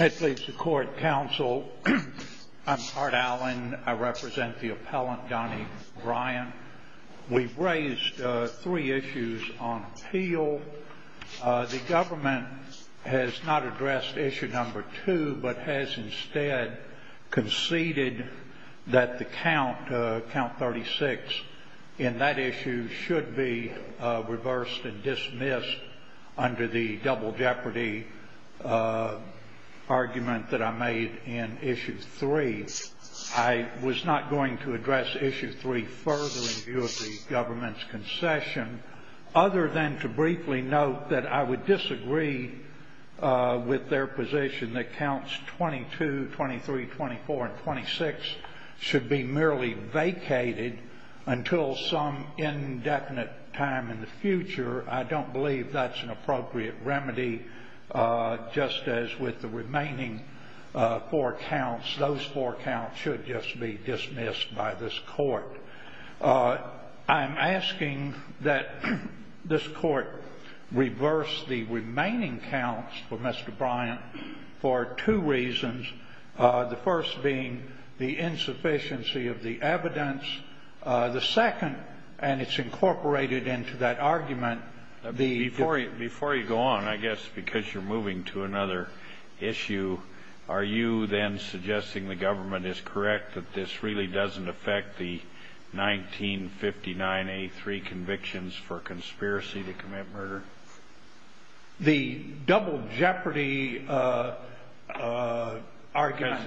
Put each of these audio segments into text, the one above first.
I'm Art Allen. I represent the appellant, Donnie Bryant. We've raised three issues on appeal. The government has not addressed issue number two, but has instead conceded that the count, count 36, in that issue should be reversed and dismissed under the double jeopardy act. That's the argument that I made in issue three. I was not going to address issue three further in view of the government's concession, other than to briefly note that I would disagree with their position that counts 22, 23, 24, and 26 should be merely vacated until some indefinite time in the future. I don't believe that's an appropriate remedy, just as with the remaining four counts. Those four counts should just be dismissed by this court. I'm asking that this court reverse the remaining counts for Mr. Bryant for two reasons, the first being the insufficiency of the evidence. The second, and it's incorporated into that argument... Before you go on, I guess because you're moving to another issue, are you then suggesting the government is correct that this really doesn't affect the 1959A3 convictions for conspiracy to commit murder? The double jeopardy argument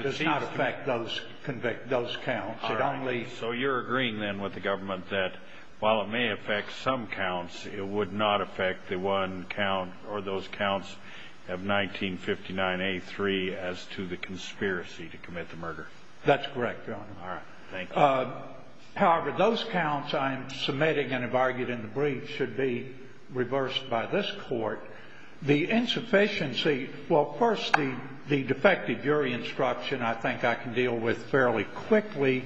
does not affect those counts. All right. So you're agreeing then with the government that while it may affect some counts, it would not affect the one count or those counts of 1959A3 as to the conspiracy to commit the murder? That's correct, Your Honor. However, those counts I'm submitting and have argued in the brief should be reversed by this court. The insufficiency... Well, first, the defective jury instruction I think I can deal with fairly quickly.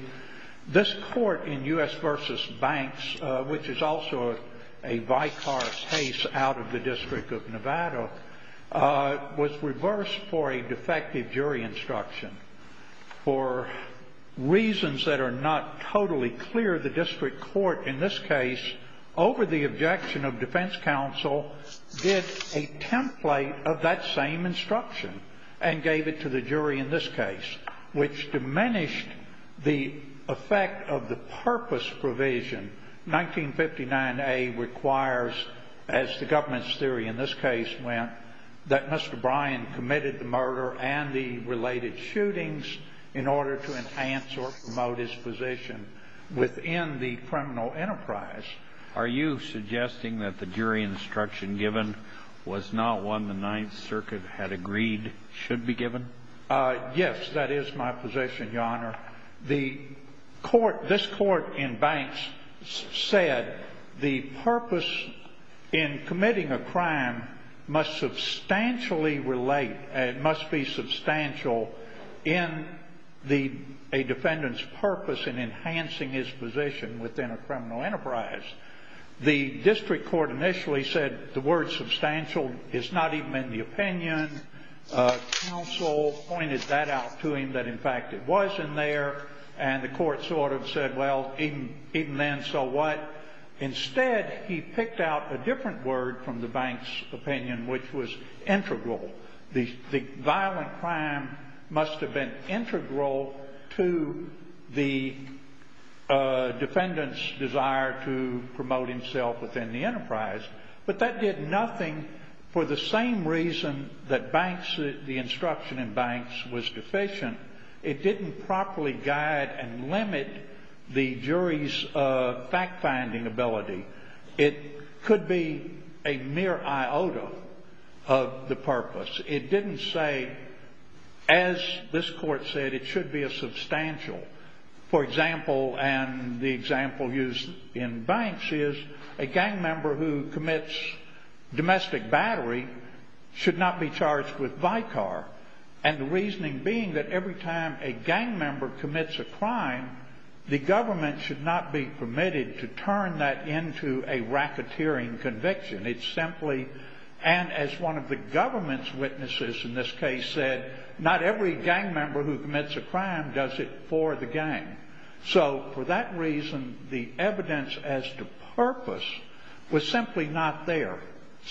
This court in U.S. v. Banks, which is also a vicarious case out of the District of Nevada, was reversed for a defective jury instruction for reasons that are not totally clear. However, the district court in this case, over the objection of defense counsel, did a template of that same instruction and gave it to the jury in this case, which diminished the effect of the purpose provision. 1959A requires, as the government's theory in this case went, that Mr. Bryan committed the murder and the related shootings in order to enhance or promote his position within the criminal enterprise. Are you suggesting that the jury instruction given was not one the Ninth Circuit had agreed should be given? Yes, that is my position, Your Honor. This court in Banks said the purpose in committing a crime must substantially relate and must be substantial in a defendant's purpose in enhancing his position within a criminal enterprise. The district court initially said the word substantial is not even in the opinion. Counsel pointed that out to him, that in fact it was in there, and the court sort of said, well, even then, so what? Instead, he picked out a different word from the bank's opinion, which was integral. The violent crime must have been integral to the defendant's desire to promote himself within the enterprise, but that did nothing for the same reason that the instruction in Banks was deficient. It didn't properly guide and limit the jury's fact-finding ability. It could be a mere iota of the purpose. It didn't say, as this court said, it should be a substantial. For example, and the example used in Banks is a gang member who commits domestic battery should not be charged with Vicar, and the reasoning being that every time a gang member commits a crime, the government should not be permitted to turn that into a racketeering conviction. It's simply, and as one of the government's witnesses in this case said, not every gang member who commits a crime does it for the gang. So for that reason, the evidence as to purpose was simply not there.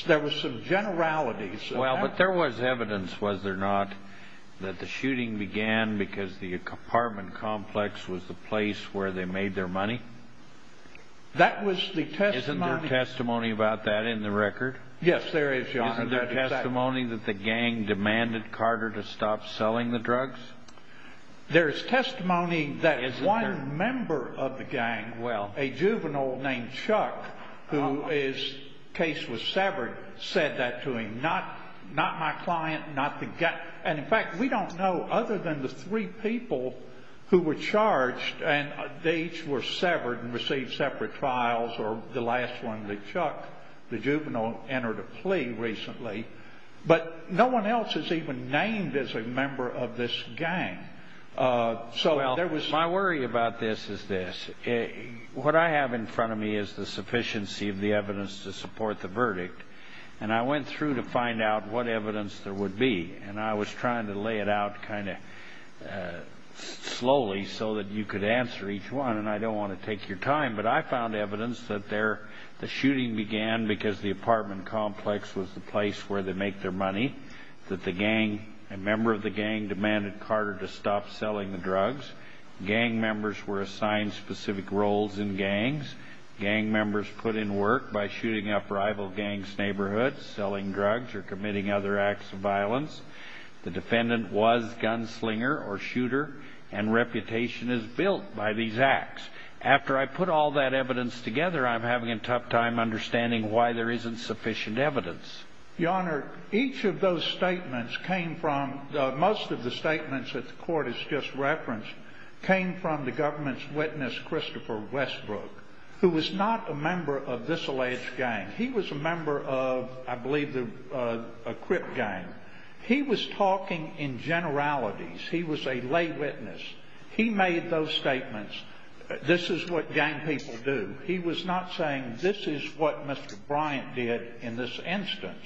There was some generalities. Well, but there was evidence, was there not, that the shooting began because the apartment complex was the place where they made their money? That was the testimony. Isn't there testimony about that in the record? Yes, there is, Your Honor. Isn't there testimony that the gang demanded Carter to stop selling the drugs? There is testimony that one member of the gang, a juvenile named Chuck, whose case was severed, said that to him. Not my client, not the gang. And, in fact, we don't know other than the three people who were charged, and they each were severed and received separate trials, or the last one, the Chuck, the juvenile, entered a plea recently. But no one else is even named as a member of this gang. Well, my worry about this is this. What I have in front of me is the sufficiency of the evidence to support the verdict, and I went through to find out what evidence there would be. And I was trying to lay it out kind of slowly so that you could answer each one, and I don't want to take your time. But I found evidence that the shooting began because the apartment complex was the place where they make their money, that the gang, a member of the gang, demanded Carter to stop selling the drugs. Gang members were assigned specific roles in gangs. Gang members put in work by shooting up rival gangs' neighborhoods, selling drugs, or committing other acts of violence. The defendant was gunslinger or shooter, and reputation is built by these acts. After I put all that evidence together, I'm having a tough time understanding why there isn't sufficient evidence. Your Honor, each of those statements came from the – most of the statements that the court has just referenced came from the government's witness, Christopher Westbrook, who was not a member of this alleged gang. He was a member of, I believe, a crip gang. He was talking in generalities. He was a lay witness. He made those statements. This is what gang people do. He was not saying this is what Mr. Bryant did in this instance.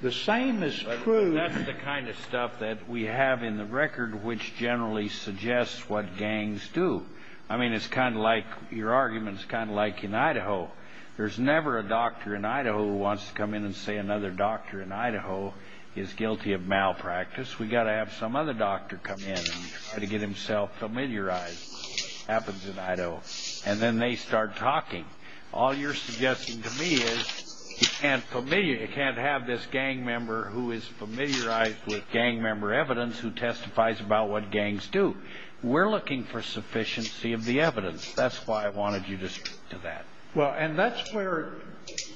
The same is true – That's the kind of stuff that we have in the record which generally suggests what gangs do. I mean, it's kind of like – your argument is kind of like in Idaho. There's never a doctor in Idaho who wants to come in and say another doctor in Idaho is guilty of malpractice. We've got to have some other doctor come in and try to get himself familiarized. It happens in Idaho. And then they start talking. All you're suggesting to me is you can't have this gang member who is familiarized with gang member evidence who testifies about what gangs do. We're looking for sufficiency of the evidence. That's why I wanted you to speak to that. Well, and that's where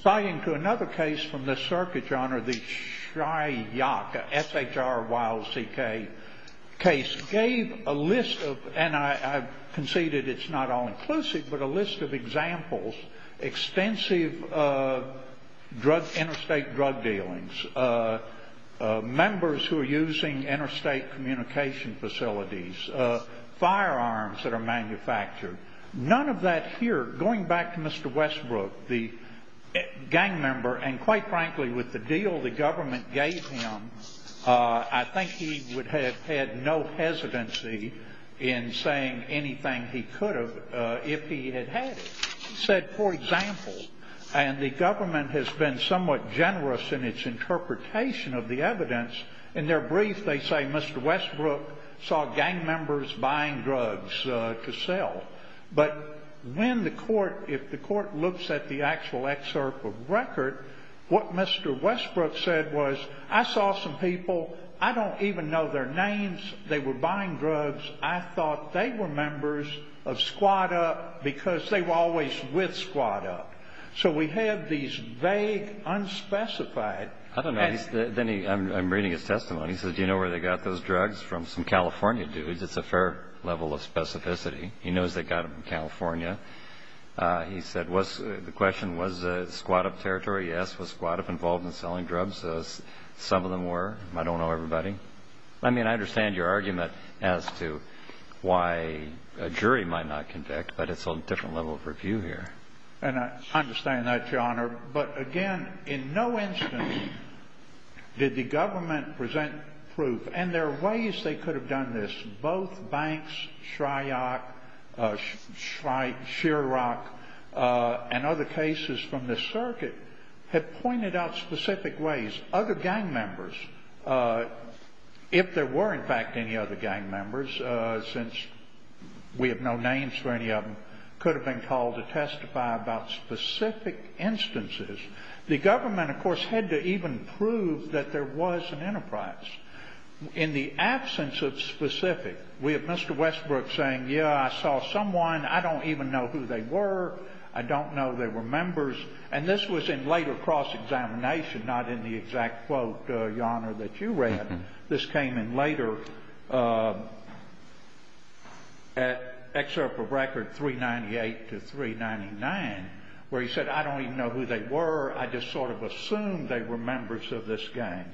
tying to another case from this circuit, John, or the SHRYCK, S-H-R-Y-L-C-K case, gave a list of – and I conceded it's not all-inclusive – but a list of examples, extensive interstate drug dealings, members who are using interstate communication facilities, firearms that are manufactured. None of that here – going back to Mr. Westbrook, the gang member, and quite frankly with the deal the government gave him, I think he would have had no hesitancy in saying anything he could have if he had had it. He said, for example – and the government has been somewhat generous in its interpretation of the evidence. In their brief, they say Mr. Westbrook saw gang members buying drugs to sell. But when the court – if the court looks at the actual excerpt of record, what Mr. Westbrook said was, I saw some people, I don't even know their names, they were buying drugs, I thought they were members of Squad Up because they were always with Squad Up. So we have these vague, unspecified – I don't know. Then he – I'm reading his testimony. He says, do you know where they got those drugs? From some California dudes. It's a fair level of specificity. He knows they got them in California. He said, was – the question, was Squad Up territory? Yes. Was Squad Up involved in selling drugs? Some of them were. I don't know everybody. I mean, I understand your argument as to why a jury might not conduct, but it's a different level of review here. And I understand that, Your Honor. But, again, in no instance did the government present proof – and there are ways they could have done this. Both Banks, Shryock, Shryock and other cases from this circuit have pointed out specific ways. Other gang members, if there were, in fact, any other gang members, since we have no names for any of them, could have been called to testify about specific instances. The government, of course, had to even prove that there was an enterprise. In the absence of specific, we have Mr. Westbrook saying, yeah, I saw someone. I don't even know who they were. I don't know they were members. And this was in later cross-examination, not in the exact quote, Your Honor, that you read. This came in later, excerpt from Record 398 to 399, where he said, I don't even know who they were. I just sort of assumed they were members of this gang.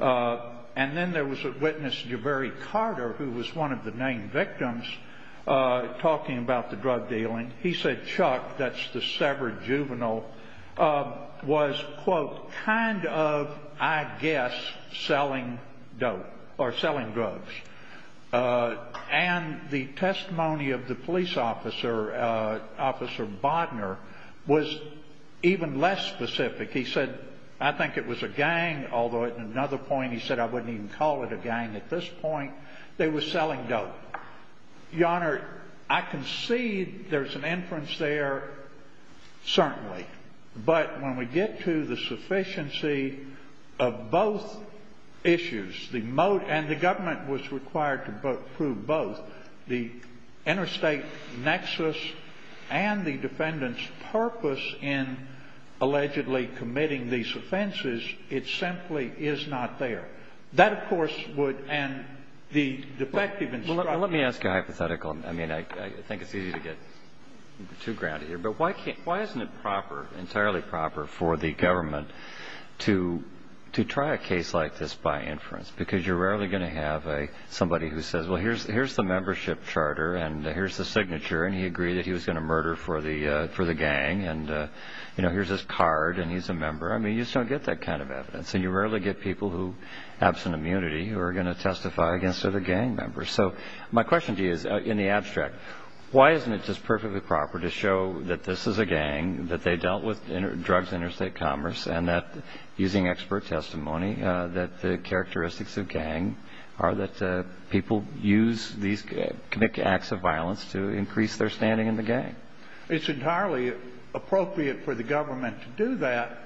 And then there was a witness, Jabari Carter, who was one of the named victims, talking about the drug dealing. And he said Chuck, that's the severed juvenile, was, quote, kind of, I guess, selling dope or selling drugs. And the testimony of the police officer, Officer Bodner, was even less specific. He said, I think it was a gang, although at another point he said, I wouldn't even call it a gang at this point. They were selling dope. Your Honor, I concede there's an inference there, certainly. But when we get to the sufficiency of both issues, and the government was required to prove both, the interstate nexus and the defendant's purpose in allegedly committing these offenses, it simply is not there. That, of course, would end the defective instruction. Well, let me ask a hypothetical. I mean, I think it's easy to get too grounded here. But why isn't it proper, entirely proper, for the government to try a case like this by inference? Because you're rarely going to have somebody who says, well, here's the membership charter, and here's the signature. And he agreed that he was going to murder for the gang. And, you know, here's his card, and he's a member. I mean, you just don't get that kind of evidence. And you rarely get people who have some immunity who are going to testify against other gang members. So my question to you is, in the abstract, why isn't it just perfectly proper to show that this is a gang, that they dealt with drugs in interstate commerce, and that, using expert testimony, that the characteristics of gang are that people use these acts of violence to increase their standing in the gang? It's entirely appropriate for the government to do that.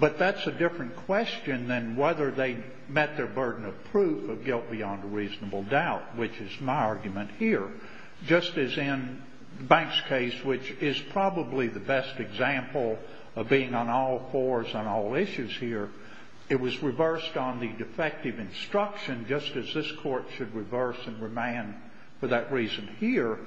But that's a different question than whether they met their burden of proof of guilt beyond a reasonable doubt, which is my argument here. Just as in Banks' case, which is probably the best example of being on all fours on all issues here, it was reversed on the defective instruction, just as this Court should reverse and remand for that reason here.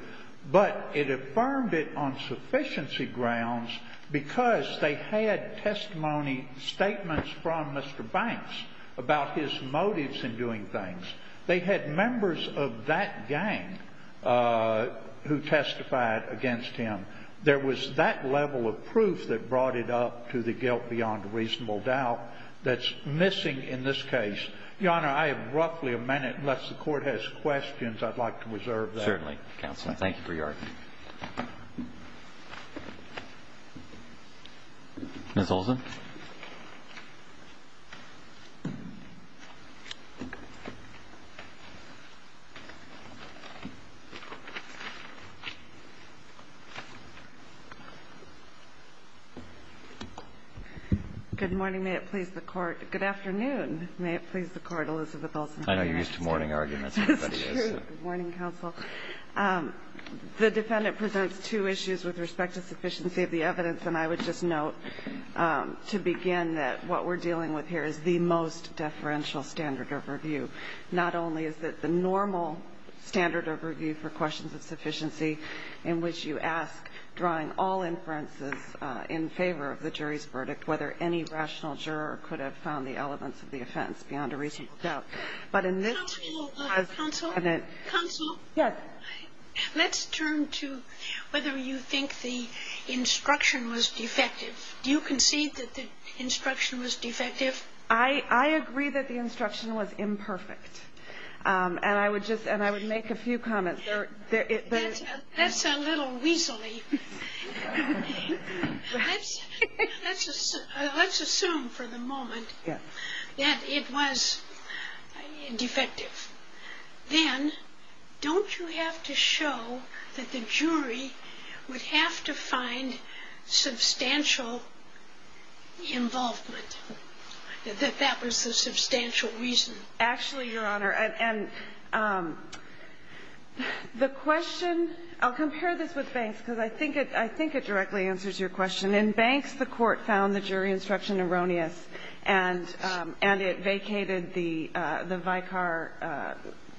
But it affirmed it on sufficiency grounds because they had testimony statements from Mr. Banks about his motives in doing things. They had members of that gang who testified against him. There was that level of proof that brought it up to the guilt beyond a reasonable doubt that's missing in this case. Your Honor, I have roughly a minute. Unless the Court has questions, I'd like to reserve that. Certainly, Counsel. Thank you for your argument. Ms. Olson. Good morning. May it please the Court. Good afternoon. May it please the Court, Elizabeth Olson. I know you're used to morning arguments. It's true. Good morning, Counsel. The defendant presents two issues with respect to sufficiency of the evidence. And I would just note to begin that what we're dealing with here is the most deferential standard of review. Not only is it the normal standard of review for questions of sufficiency in which you ask, drawing all inferences in favor of the jury's verdict, whether any rational juror could have found the elements of the offense beyond a reasonable doubt that's missing in this case. But in this case, it has been. Counsel. Counsel. Yes. Let's turn to whether you think the instruction was defective. Do you concede that the instruction was defective? I agree that the instruction was imperfect. And I would just – and I would make a few comments. That's a little weaselly. Let's assume for the moment that it was defective. Then don't you have to show that the jury would have to find substantial involvement, that that was the substantial reason? Actually, Your Honor, and the question – I'll compare this with Banks because I think it directly answers your question. In Banks, the court found the jury instruction erroneous, and it vacated the Vicar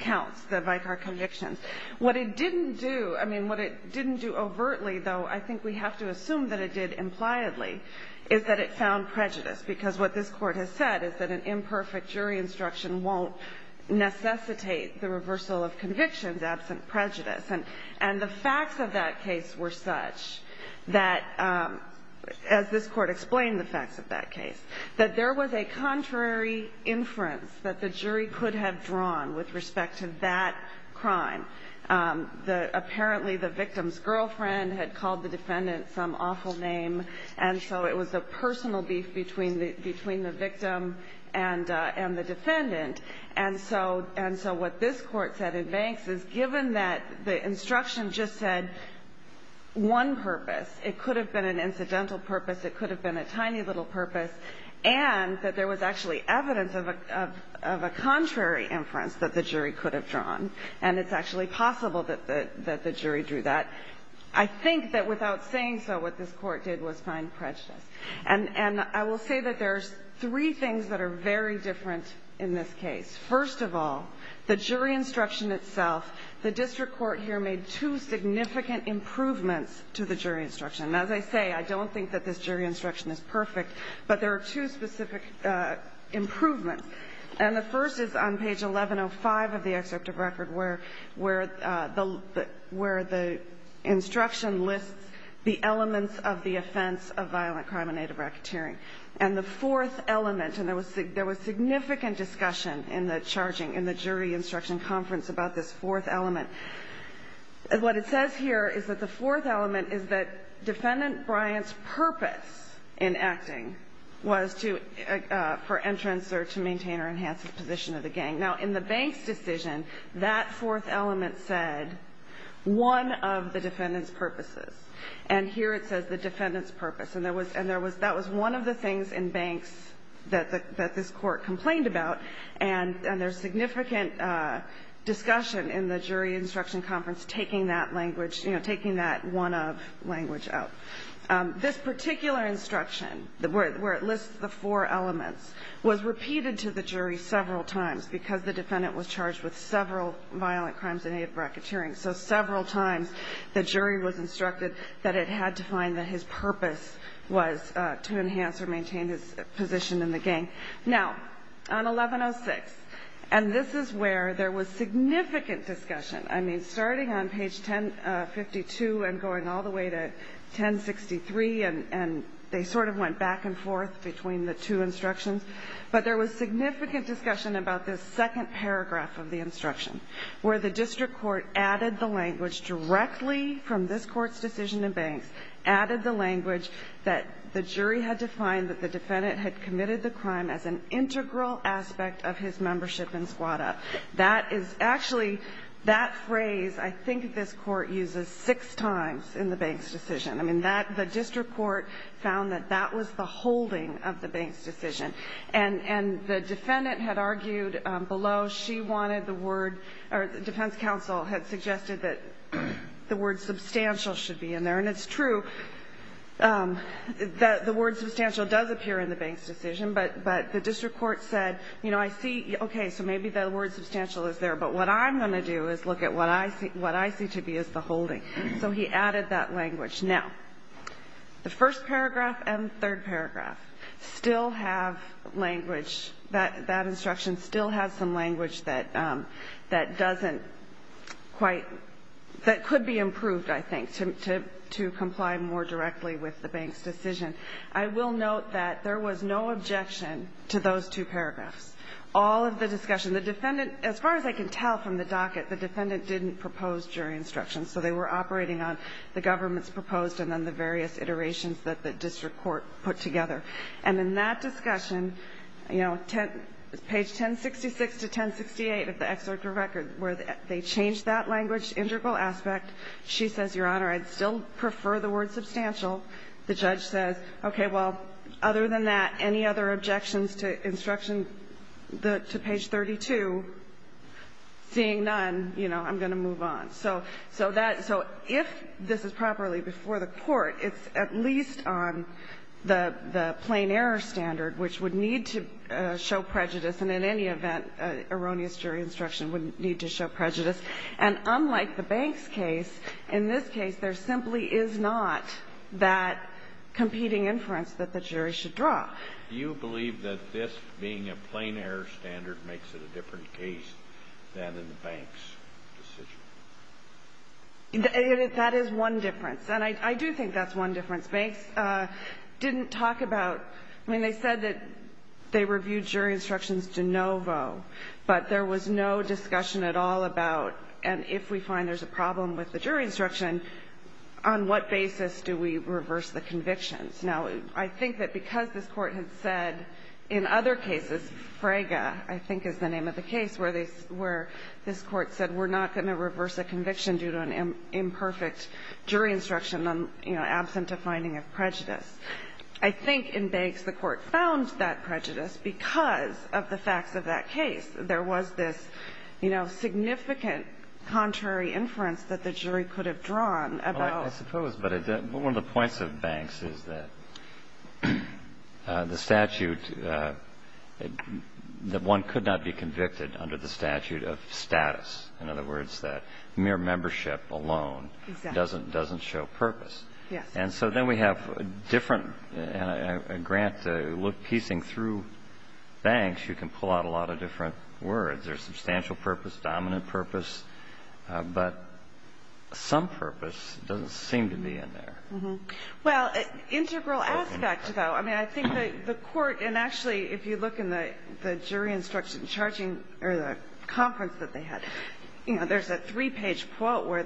counts, the Vicar convictions. What it didn't do – I mean, what it didn't do overtly, though I think we have to assume that it did impliedly, is that it found prejudice, because what this Court has said is that an imperfect jury instruction won't necessitate the reversal of convictions absent prejudice. And the facts of that case were such that, as this Court explained the facts of that case, that there was a contrary inference that the jury could have drawn with respect to that crime. Apparently, the victim's girlfriend had called the defendant some awful name, and so it was a personal beef between the victim and the defendant. And so what this Court said in Banks is, given that the instruction just said one purpose – it could have been an incidental purpose, it could have been a tiny little purpose – and that there was actually evidence of a contrary inference that the jury could have drawn, and it's actually possible that the jury drew that, I think that without saying so, what this Court did was find prejudice. And I will say that there's three things that are very different in this case. First of all, the jury instruction itself, the district court here made two significant improvements to the jury instruction. And as I say, I don't think that this jury instruction is perfect, but there are two specific improvements. And the first is on page 1105 of the excerpt of record where the instruction lists the elements of the offense of violent crime and native racketeering. And the fourth element – and there was significant discussion in the jury instruction conference about this fourth element. What it says here is that the fourth element is that Defendant Bryant's purpose in acting was for entrance or to maintain or enhance the position of the gang. Now, in the bank's decision, that fourth element said, one of the defendant's purposes. And here it says the defendant's purpose. And there was – that was one of the things in banks that this Court complained about, and there's significant discussion in the jury instruction conference taking that language – you know, taking that one of language out. This particular instruction, where it lists the four elements, was repeated to the jury because the defendant was charged with several violent crimes and native racketeering. So several times, the jury was instructed that it had to find that his purpose was to enhance or maintain his position in the gang. Now, on 1106 – and this is where there was significant discussion. I mean, starting on page 1052 and going all the way to 1063, and they sort of went back and forth between the two instructions. But there was significant discussion about this second paragraph of the instruction, where the district court added the language directly from this Court's decision in banks, added the language that the jury had defined that the defendant had committed the crime as an integral aspect of his membership in squatta. That is – actually, that phrase I think this Court uses six times in the bank's decision. I mean, that – the district court found that that was the holding of the bank's decision. And the defendant had argued below she wanted the word – or the defense counsel had suggested that the word substantial should be in there. And it's true that the word substantial does appear in the bank's decision, but the district court said, you know, I see – okay, so maybe the word substantial is there, but what I'm going to do is look at what I see to be as the holding. So he added that language. Now, the first paragraph and third paragraph still have language – that instruction still has some language that doesn't quite – that could be improved, I think, to comply more directly with the bank's decision. I will note that there was no objection to those two paragraphs. All of the discussion – the defendant – as far as I can tell from the docket, the defendant didn't propose jury instruction, so they were operating on the government's proposed and then the various iterations that the district court put together. And in that discussion, you know, page 1066 to 1068 of the excerpt of record, where they changed that language integral aspect, she says, Your Honor, I'd still prefer the word substantial. The judge says, okay, well, other than that, any other objections to instruction to page 32, seeing none, you know, I'm going to move on. So that – so if this is properly before the court, it's at least on the plain error standard, which would need to show prejudice, and in any event, erroneous jury instruction would need to show prejudice. And unlike the bank's case, in this case, there simply is not that competing inference that the jury should draw. Do you believe that this being a plain error standard makes it a different case than in the bank's decision? That is one difference, and I do think that's one difference. Banks didn't talk about – I mean, they said that they reviewed jury instructions de novo, but there was no discussion at all about, and if we find there's a problem with the jury instruction, on what basis do we reverse the convictions? Now, I think that because this Court had said in other cases, Frege, I think is the name of the case, where this Court said we're not going to reverse a conviction due to an imperfect jury instruction on, you know, absent a finding of prejudice. I think in Banks, the Court found that prejudice because of the facts of that case. There was this, you know, significant contrary inference that the jury could have drawn about – Well, I suppose, but one of the points of Banks is that the statute, that one could not be convicted under the statute of status. In other words, that mere membership alone doesn't show purpose. Yes. And so then we have a different grant to look – piecing through Banks, you can pull out a lot of different words. There's substantial purpose, dominant purpose, but some purpose doesn't seem to be in there. Well, integral aspect, though, I mean, I think the Court – and actually, if you look in the jury instruction charging – or the conference that they had, you know, there's a three-page quote where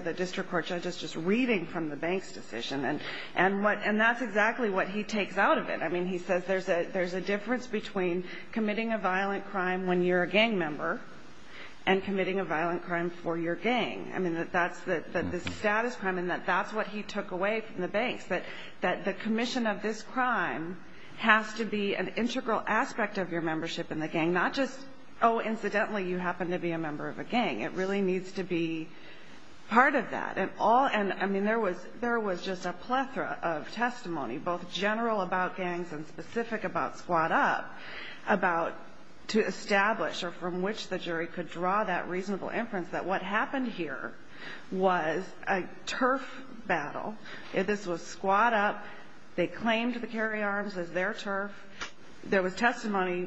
the district court judge is just reading from the Banks decision. And what – and that's exactly what he takes out of it. I mean, he says there's a difference between committing a violent crime when you're a gang member and committing a violent crime for your gang. I mean, that's the status crime, and that's what he took away from the Banks, that the commission of this crime has to be an integral aspect of your membership in the gang, not just, oh, incidentally, you happen to be a member of a gang. It really needs to be part of that. And all – and I mean, there was just a plethora of testimony, both general about gangs and specific about Squad Up, about – to establish or from which the jury could draw that reasonable inference that what happened here was a turf battle. This was Squad Up. They claimed the carry arms as their turf. There was testimony,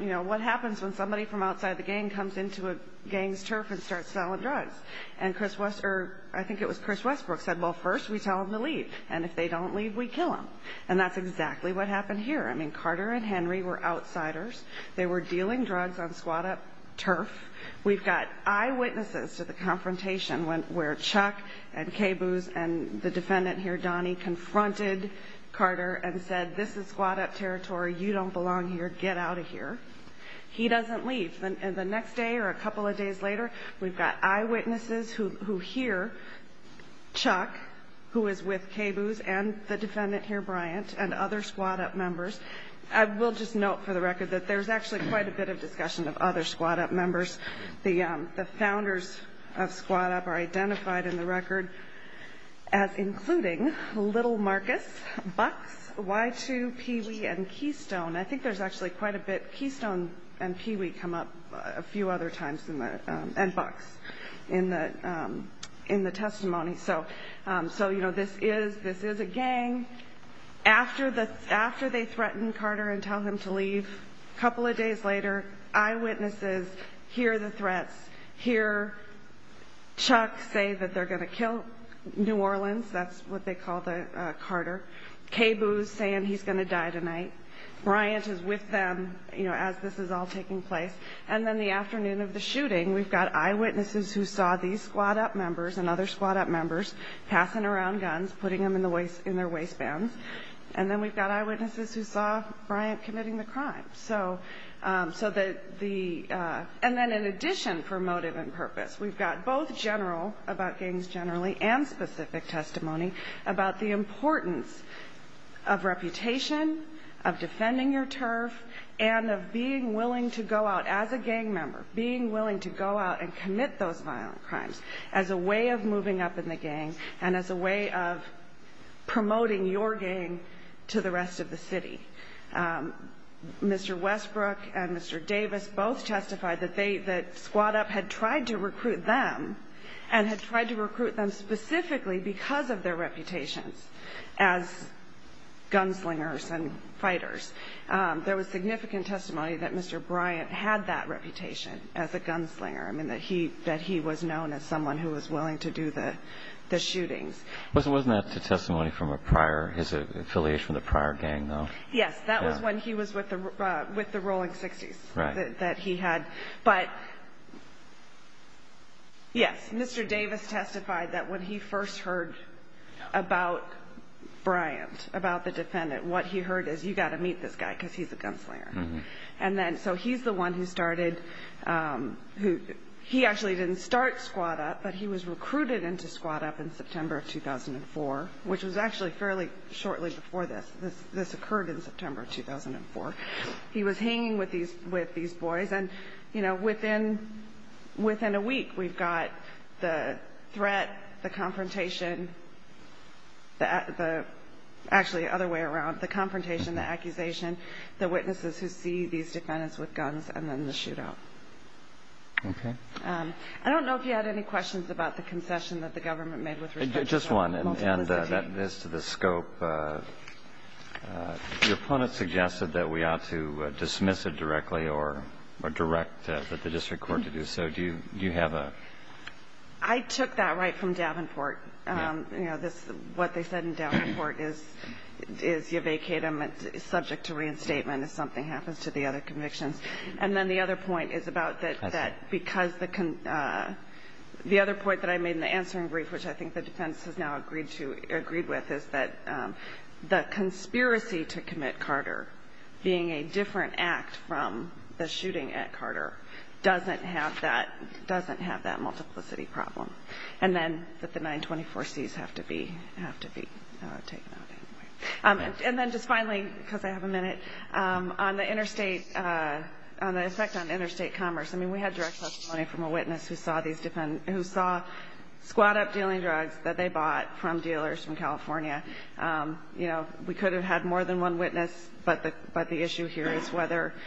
you know, what happens when somebody from outside the gang comes into a gang's turf and starts selling drugs. And Chris – or I think it was Chris Westbrook said, well, first we tell them to leave, and if they don't leave, we kill them. And that's exactly what happened here. I mean, Carter and Henry were outsiders. They were dealing drugs on Squad Up turf. We've got eyewitnesses to the confrontation where Chuck and Caboose and the defendant here, Donnie, confronted Carter and said, this is Squad Up territory. You don't belong here. Get out of here. He doesn't leave. And the next day or a couple of days later, we've got eyewitnesses who hear Chuck, who is with Caboose and the defendant here, Bryant, and other Squad Up members. I will just note for the record that there's actually quite a bit of discussion of other Squad Up members. The founders of Squad Up are identified in the record as including Little Marcus, Bucks, Y2, Pee Wee, and Keystone. I think there's actually quite a bit – Keystone and Pee Wee come up a few other times and Bucks in the testimony. So, you know, this is a gang. After they threaten Carter and tell him to leave, a couple of days later, eyewitnesses hear the threats, hear Chuck say that they're going to kill New Orleans. That's what they call Carter. Caboose saying he's going to die tonight. Bryant is with them, you know, as this is all taking place. And then the afternoon of the shooting, we've got eyewitnesses who saw these Squad Up members and other Squad Up members passing around guns, putting them in their waistbands. And then we've got eyewitnesses who saw Bryant committing the crime. So that the – and then in addition for motive and purpose, we've got both general, about gangs generally, and specific testimony about the importance of reputation, of defending your turf, and of being willing to go out as a gang member, being willing to go out and commit those violent crimes as a way of moving up in the gang and as a way of promoting your gang to the rest of the city. Mr. Westbrook and Mr. Davis both testified that Squad Up had tried to recruit them and had tried to recruit them specifically because of their reputations as gunslingers and fighters. There was significant testimony that Mr. Bryant had that reputation as a gunslinger, that he was known as someone who was willing to do the shootings. Wasn't that the testimony from a prior – his affiliation with a prior gang, though? Yes, that was when he was with the Rolling 60s that he had. But yes, Mr. Davis testified that when he first heard about Bryant, about the defendant, what he heard is, you've got to meet this guy because he's a gunslinger. And then – so he's the one who started – he actually didn't start Squad Up, but he was recruited into Squad Up in September of 2004, which was actually fairly shortly before this. This occurred in September of 2004. He was hanging with these boys. And, you know, within a week, we've got the threat, the confrontation – actually, the other way around, the confrontation, the accusation, the witnesses who see these defendants with guns, and then the shootout. Okay. I don't know if you had any questions about the concession that the government made with respect to multiplicity. Just one, and this to the scope. Your opponent suggested that we ought to dismiss it directly or direct the district court to do so. Do you have a – I took that right from Davenport. You know, what they said in Davenport is you vacate them, it's subject to reinstatement if something happens to the other convictions. And then the other point is about that because the – the other point that I made in the answering brief, which I think the defense has now agreed with, is that the conspiracy to commit Carter, being a different act from the shooting at Carter, doesn't have that multiplicity problem. And then that the 924Cs have to be taken out anyway. And then just finally, because I have a minute, on the interstate – on the effect on interstate commerce. I mean, we had direct testimony from a witness who saw squad up dealing drugs that they bought from dealers in California. You know, we could have had more than one witness, but the issue here is whether –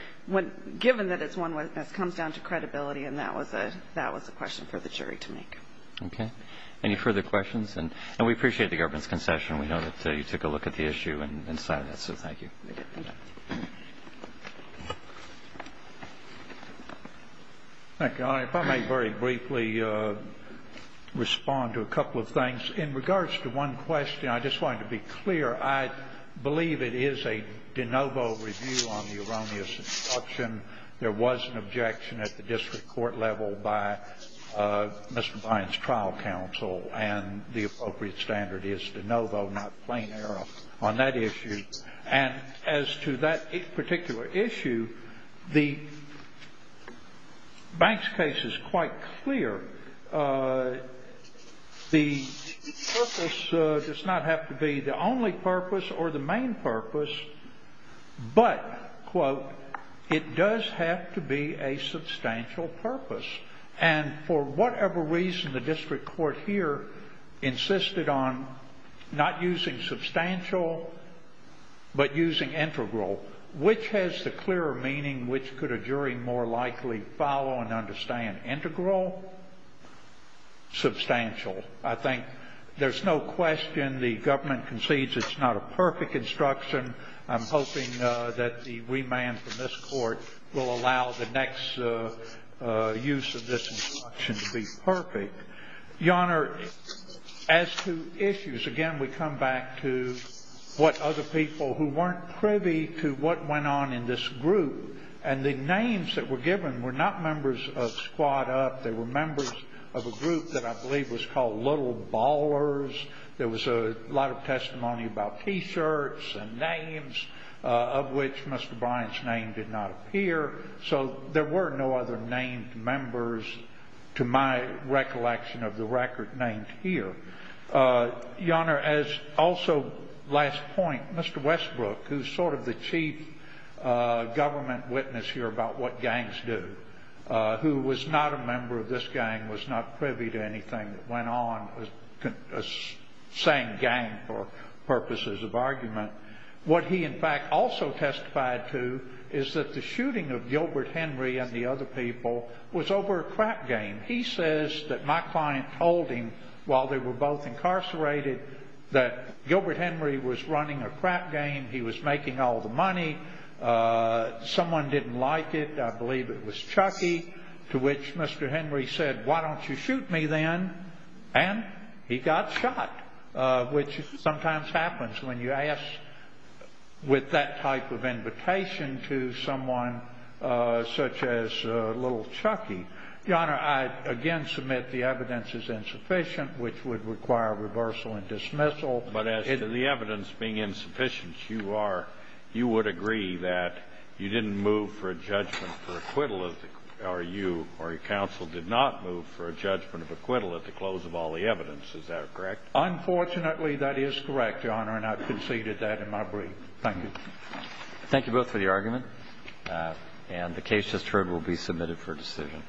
given that it's one witness comes down to credibility, and that was a question for the jury to make. Okay. Any further questions? And we appreciate the government's concession. We know that you took a look at the issue and cited it, so thank you. Thank you. If I may very briefly respond to a couple of things. In regards to one question, I just wanted to be clear. I believe it is a de novo review on the erroneous instruction. There was an objection at the district court level by Mr. Bynes' trial counsel, and the appropriate standard is de novo, not plain error on that issue. And as to that particular issue, the Bynes case is quite clear. The purpose does not have to be the only purpose or the main purpose, but, quote, it does have to be a substantial purpose. And for whatever reason, the district court here insisted on not using substantial but using integral. Which has the clearer meaning? Which could a jury more likely follow and understand? Integral? Substantial? I think there's no question the government concedes it's not a perfect instruction. I'm hoping that the remand from this court will allow the next use of this instruction to be perfect. Your Honor, as to issues, again, we come back to what other people who weren't privy to what went on in this group, and the names that were given were not members of Squad Up. They were members of a group that I believe was called Little Ballers. There was a lot of testimony about T-shirts and names, of which Mr. Bynes' name did not appear. So there were no other named members to my recollection of the record named here. Your Honor, as also last point, Mr. Westbrook, who's sort of the chief government witness here about what gangs do, who was not a member of this gang, was not privy to anything that went on, a saying gang for purposes of argument, what he in fact also testified to is that the shooting of Gilbert Henry and the other people was over a crap game. He says that my client told him while they were both incarcerated that Gilbert Henry was running a crap game. He was making all the money. Someone didn't like it. I believe it was Chucky, to which Mr. Henry said, Why don't you shoot me then? And he got shot, which sometimes happens when you ask with that type of invitation to someone such as Little Chucky. Your Honor, I again submit the evidence is insufficient, which would require reversal and dismissal. But as to the evidence being insufficient, you would agree that you didn't move for a judgment for acquittal, or you or counsel did not move for a judgment of acquittal at the close of all the evidence. Is that correct? Unfortunately, that is correct, Your Honor, and I've conceded that in my brief. Thank you. Thank you both for the argument. And the case just heard will be submitted for decision.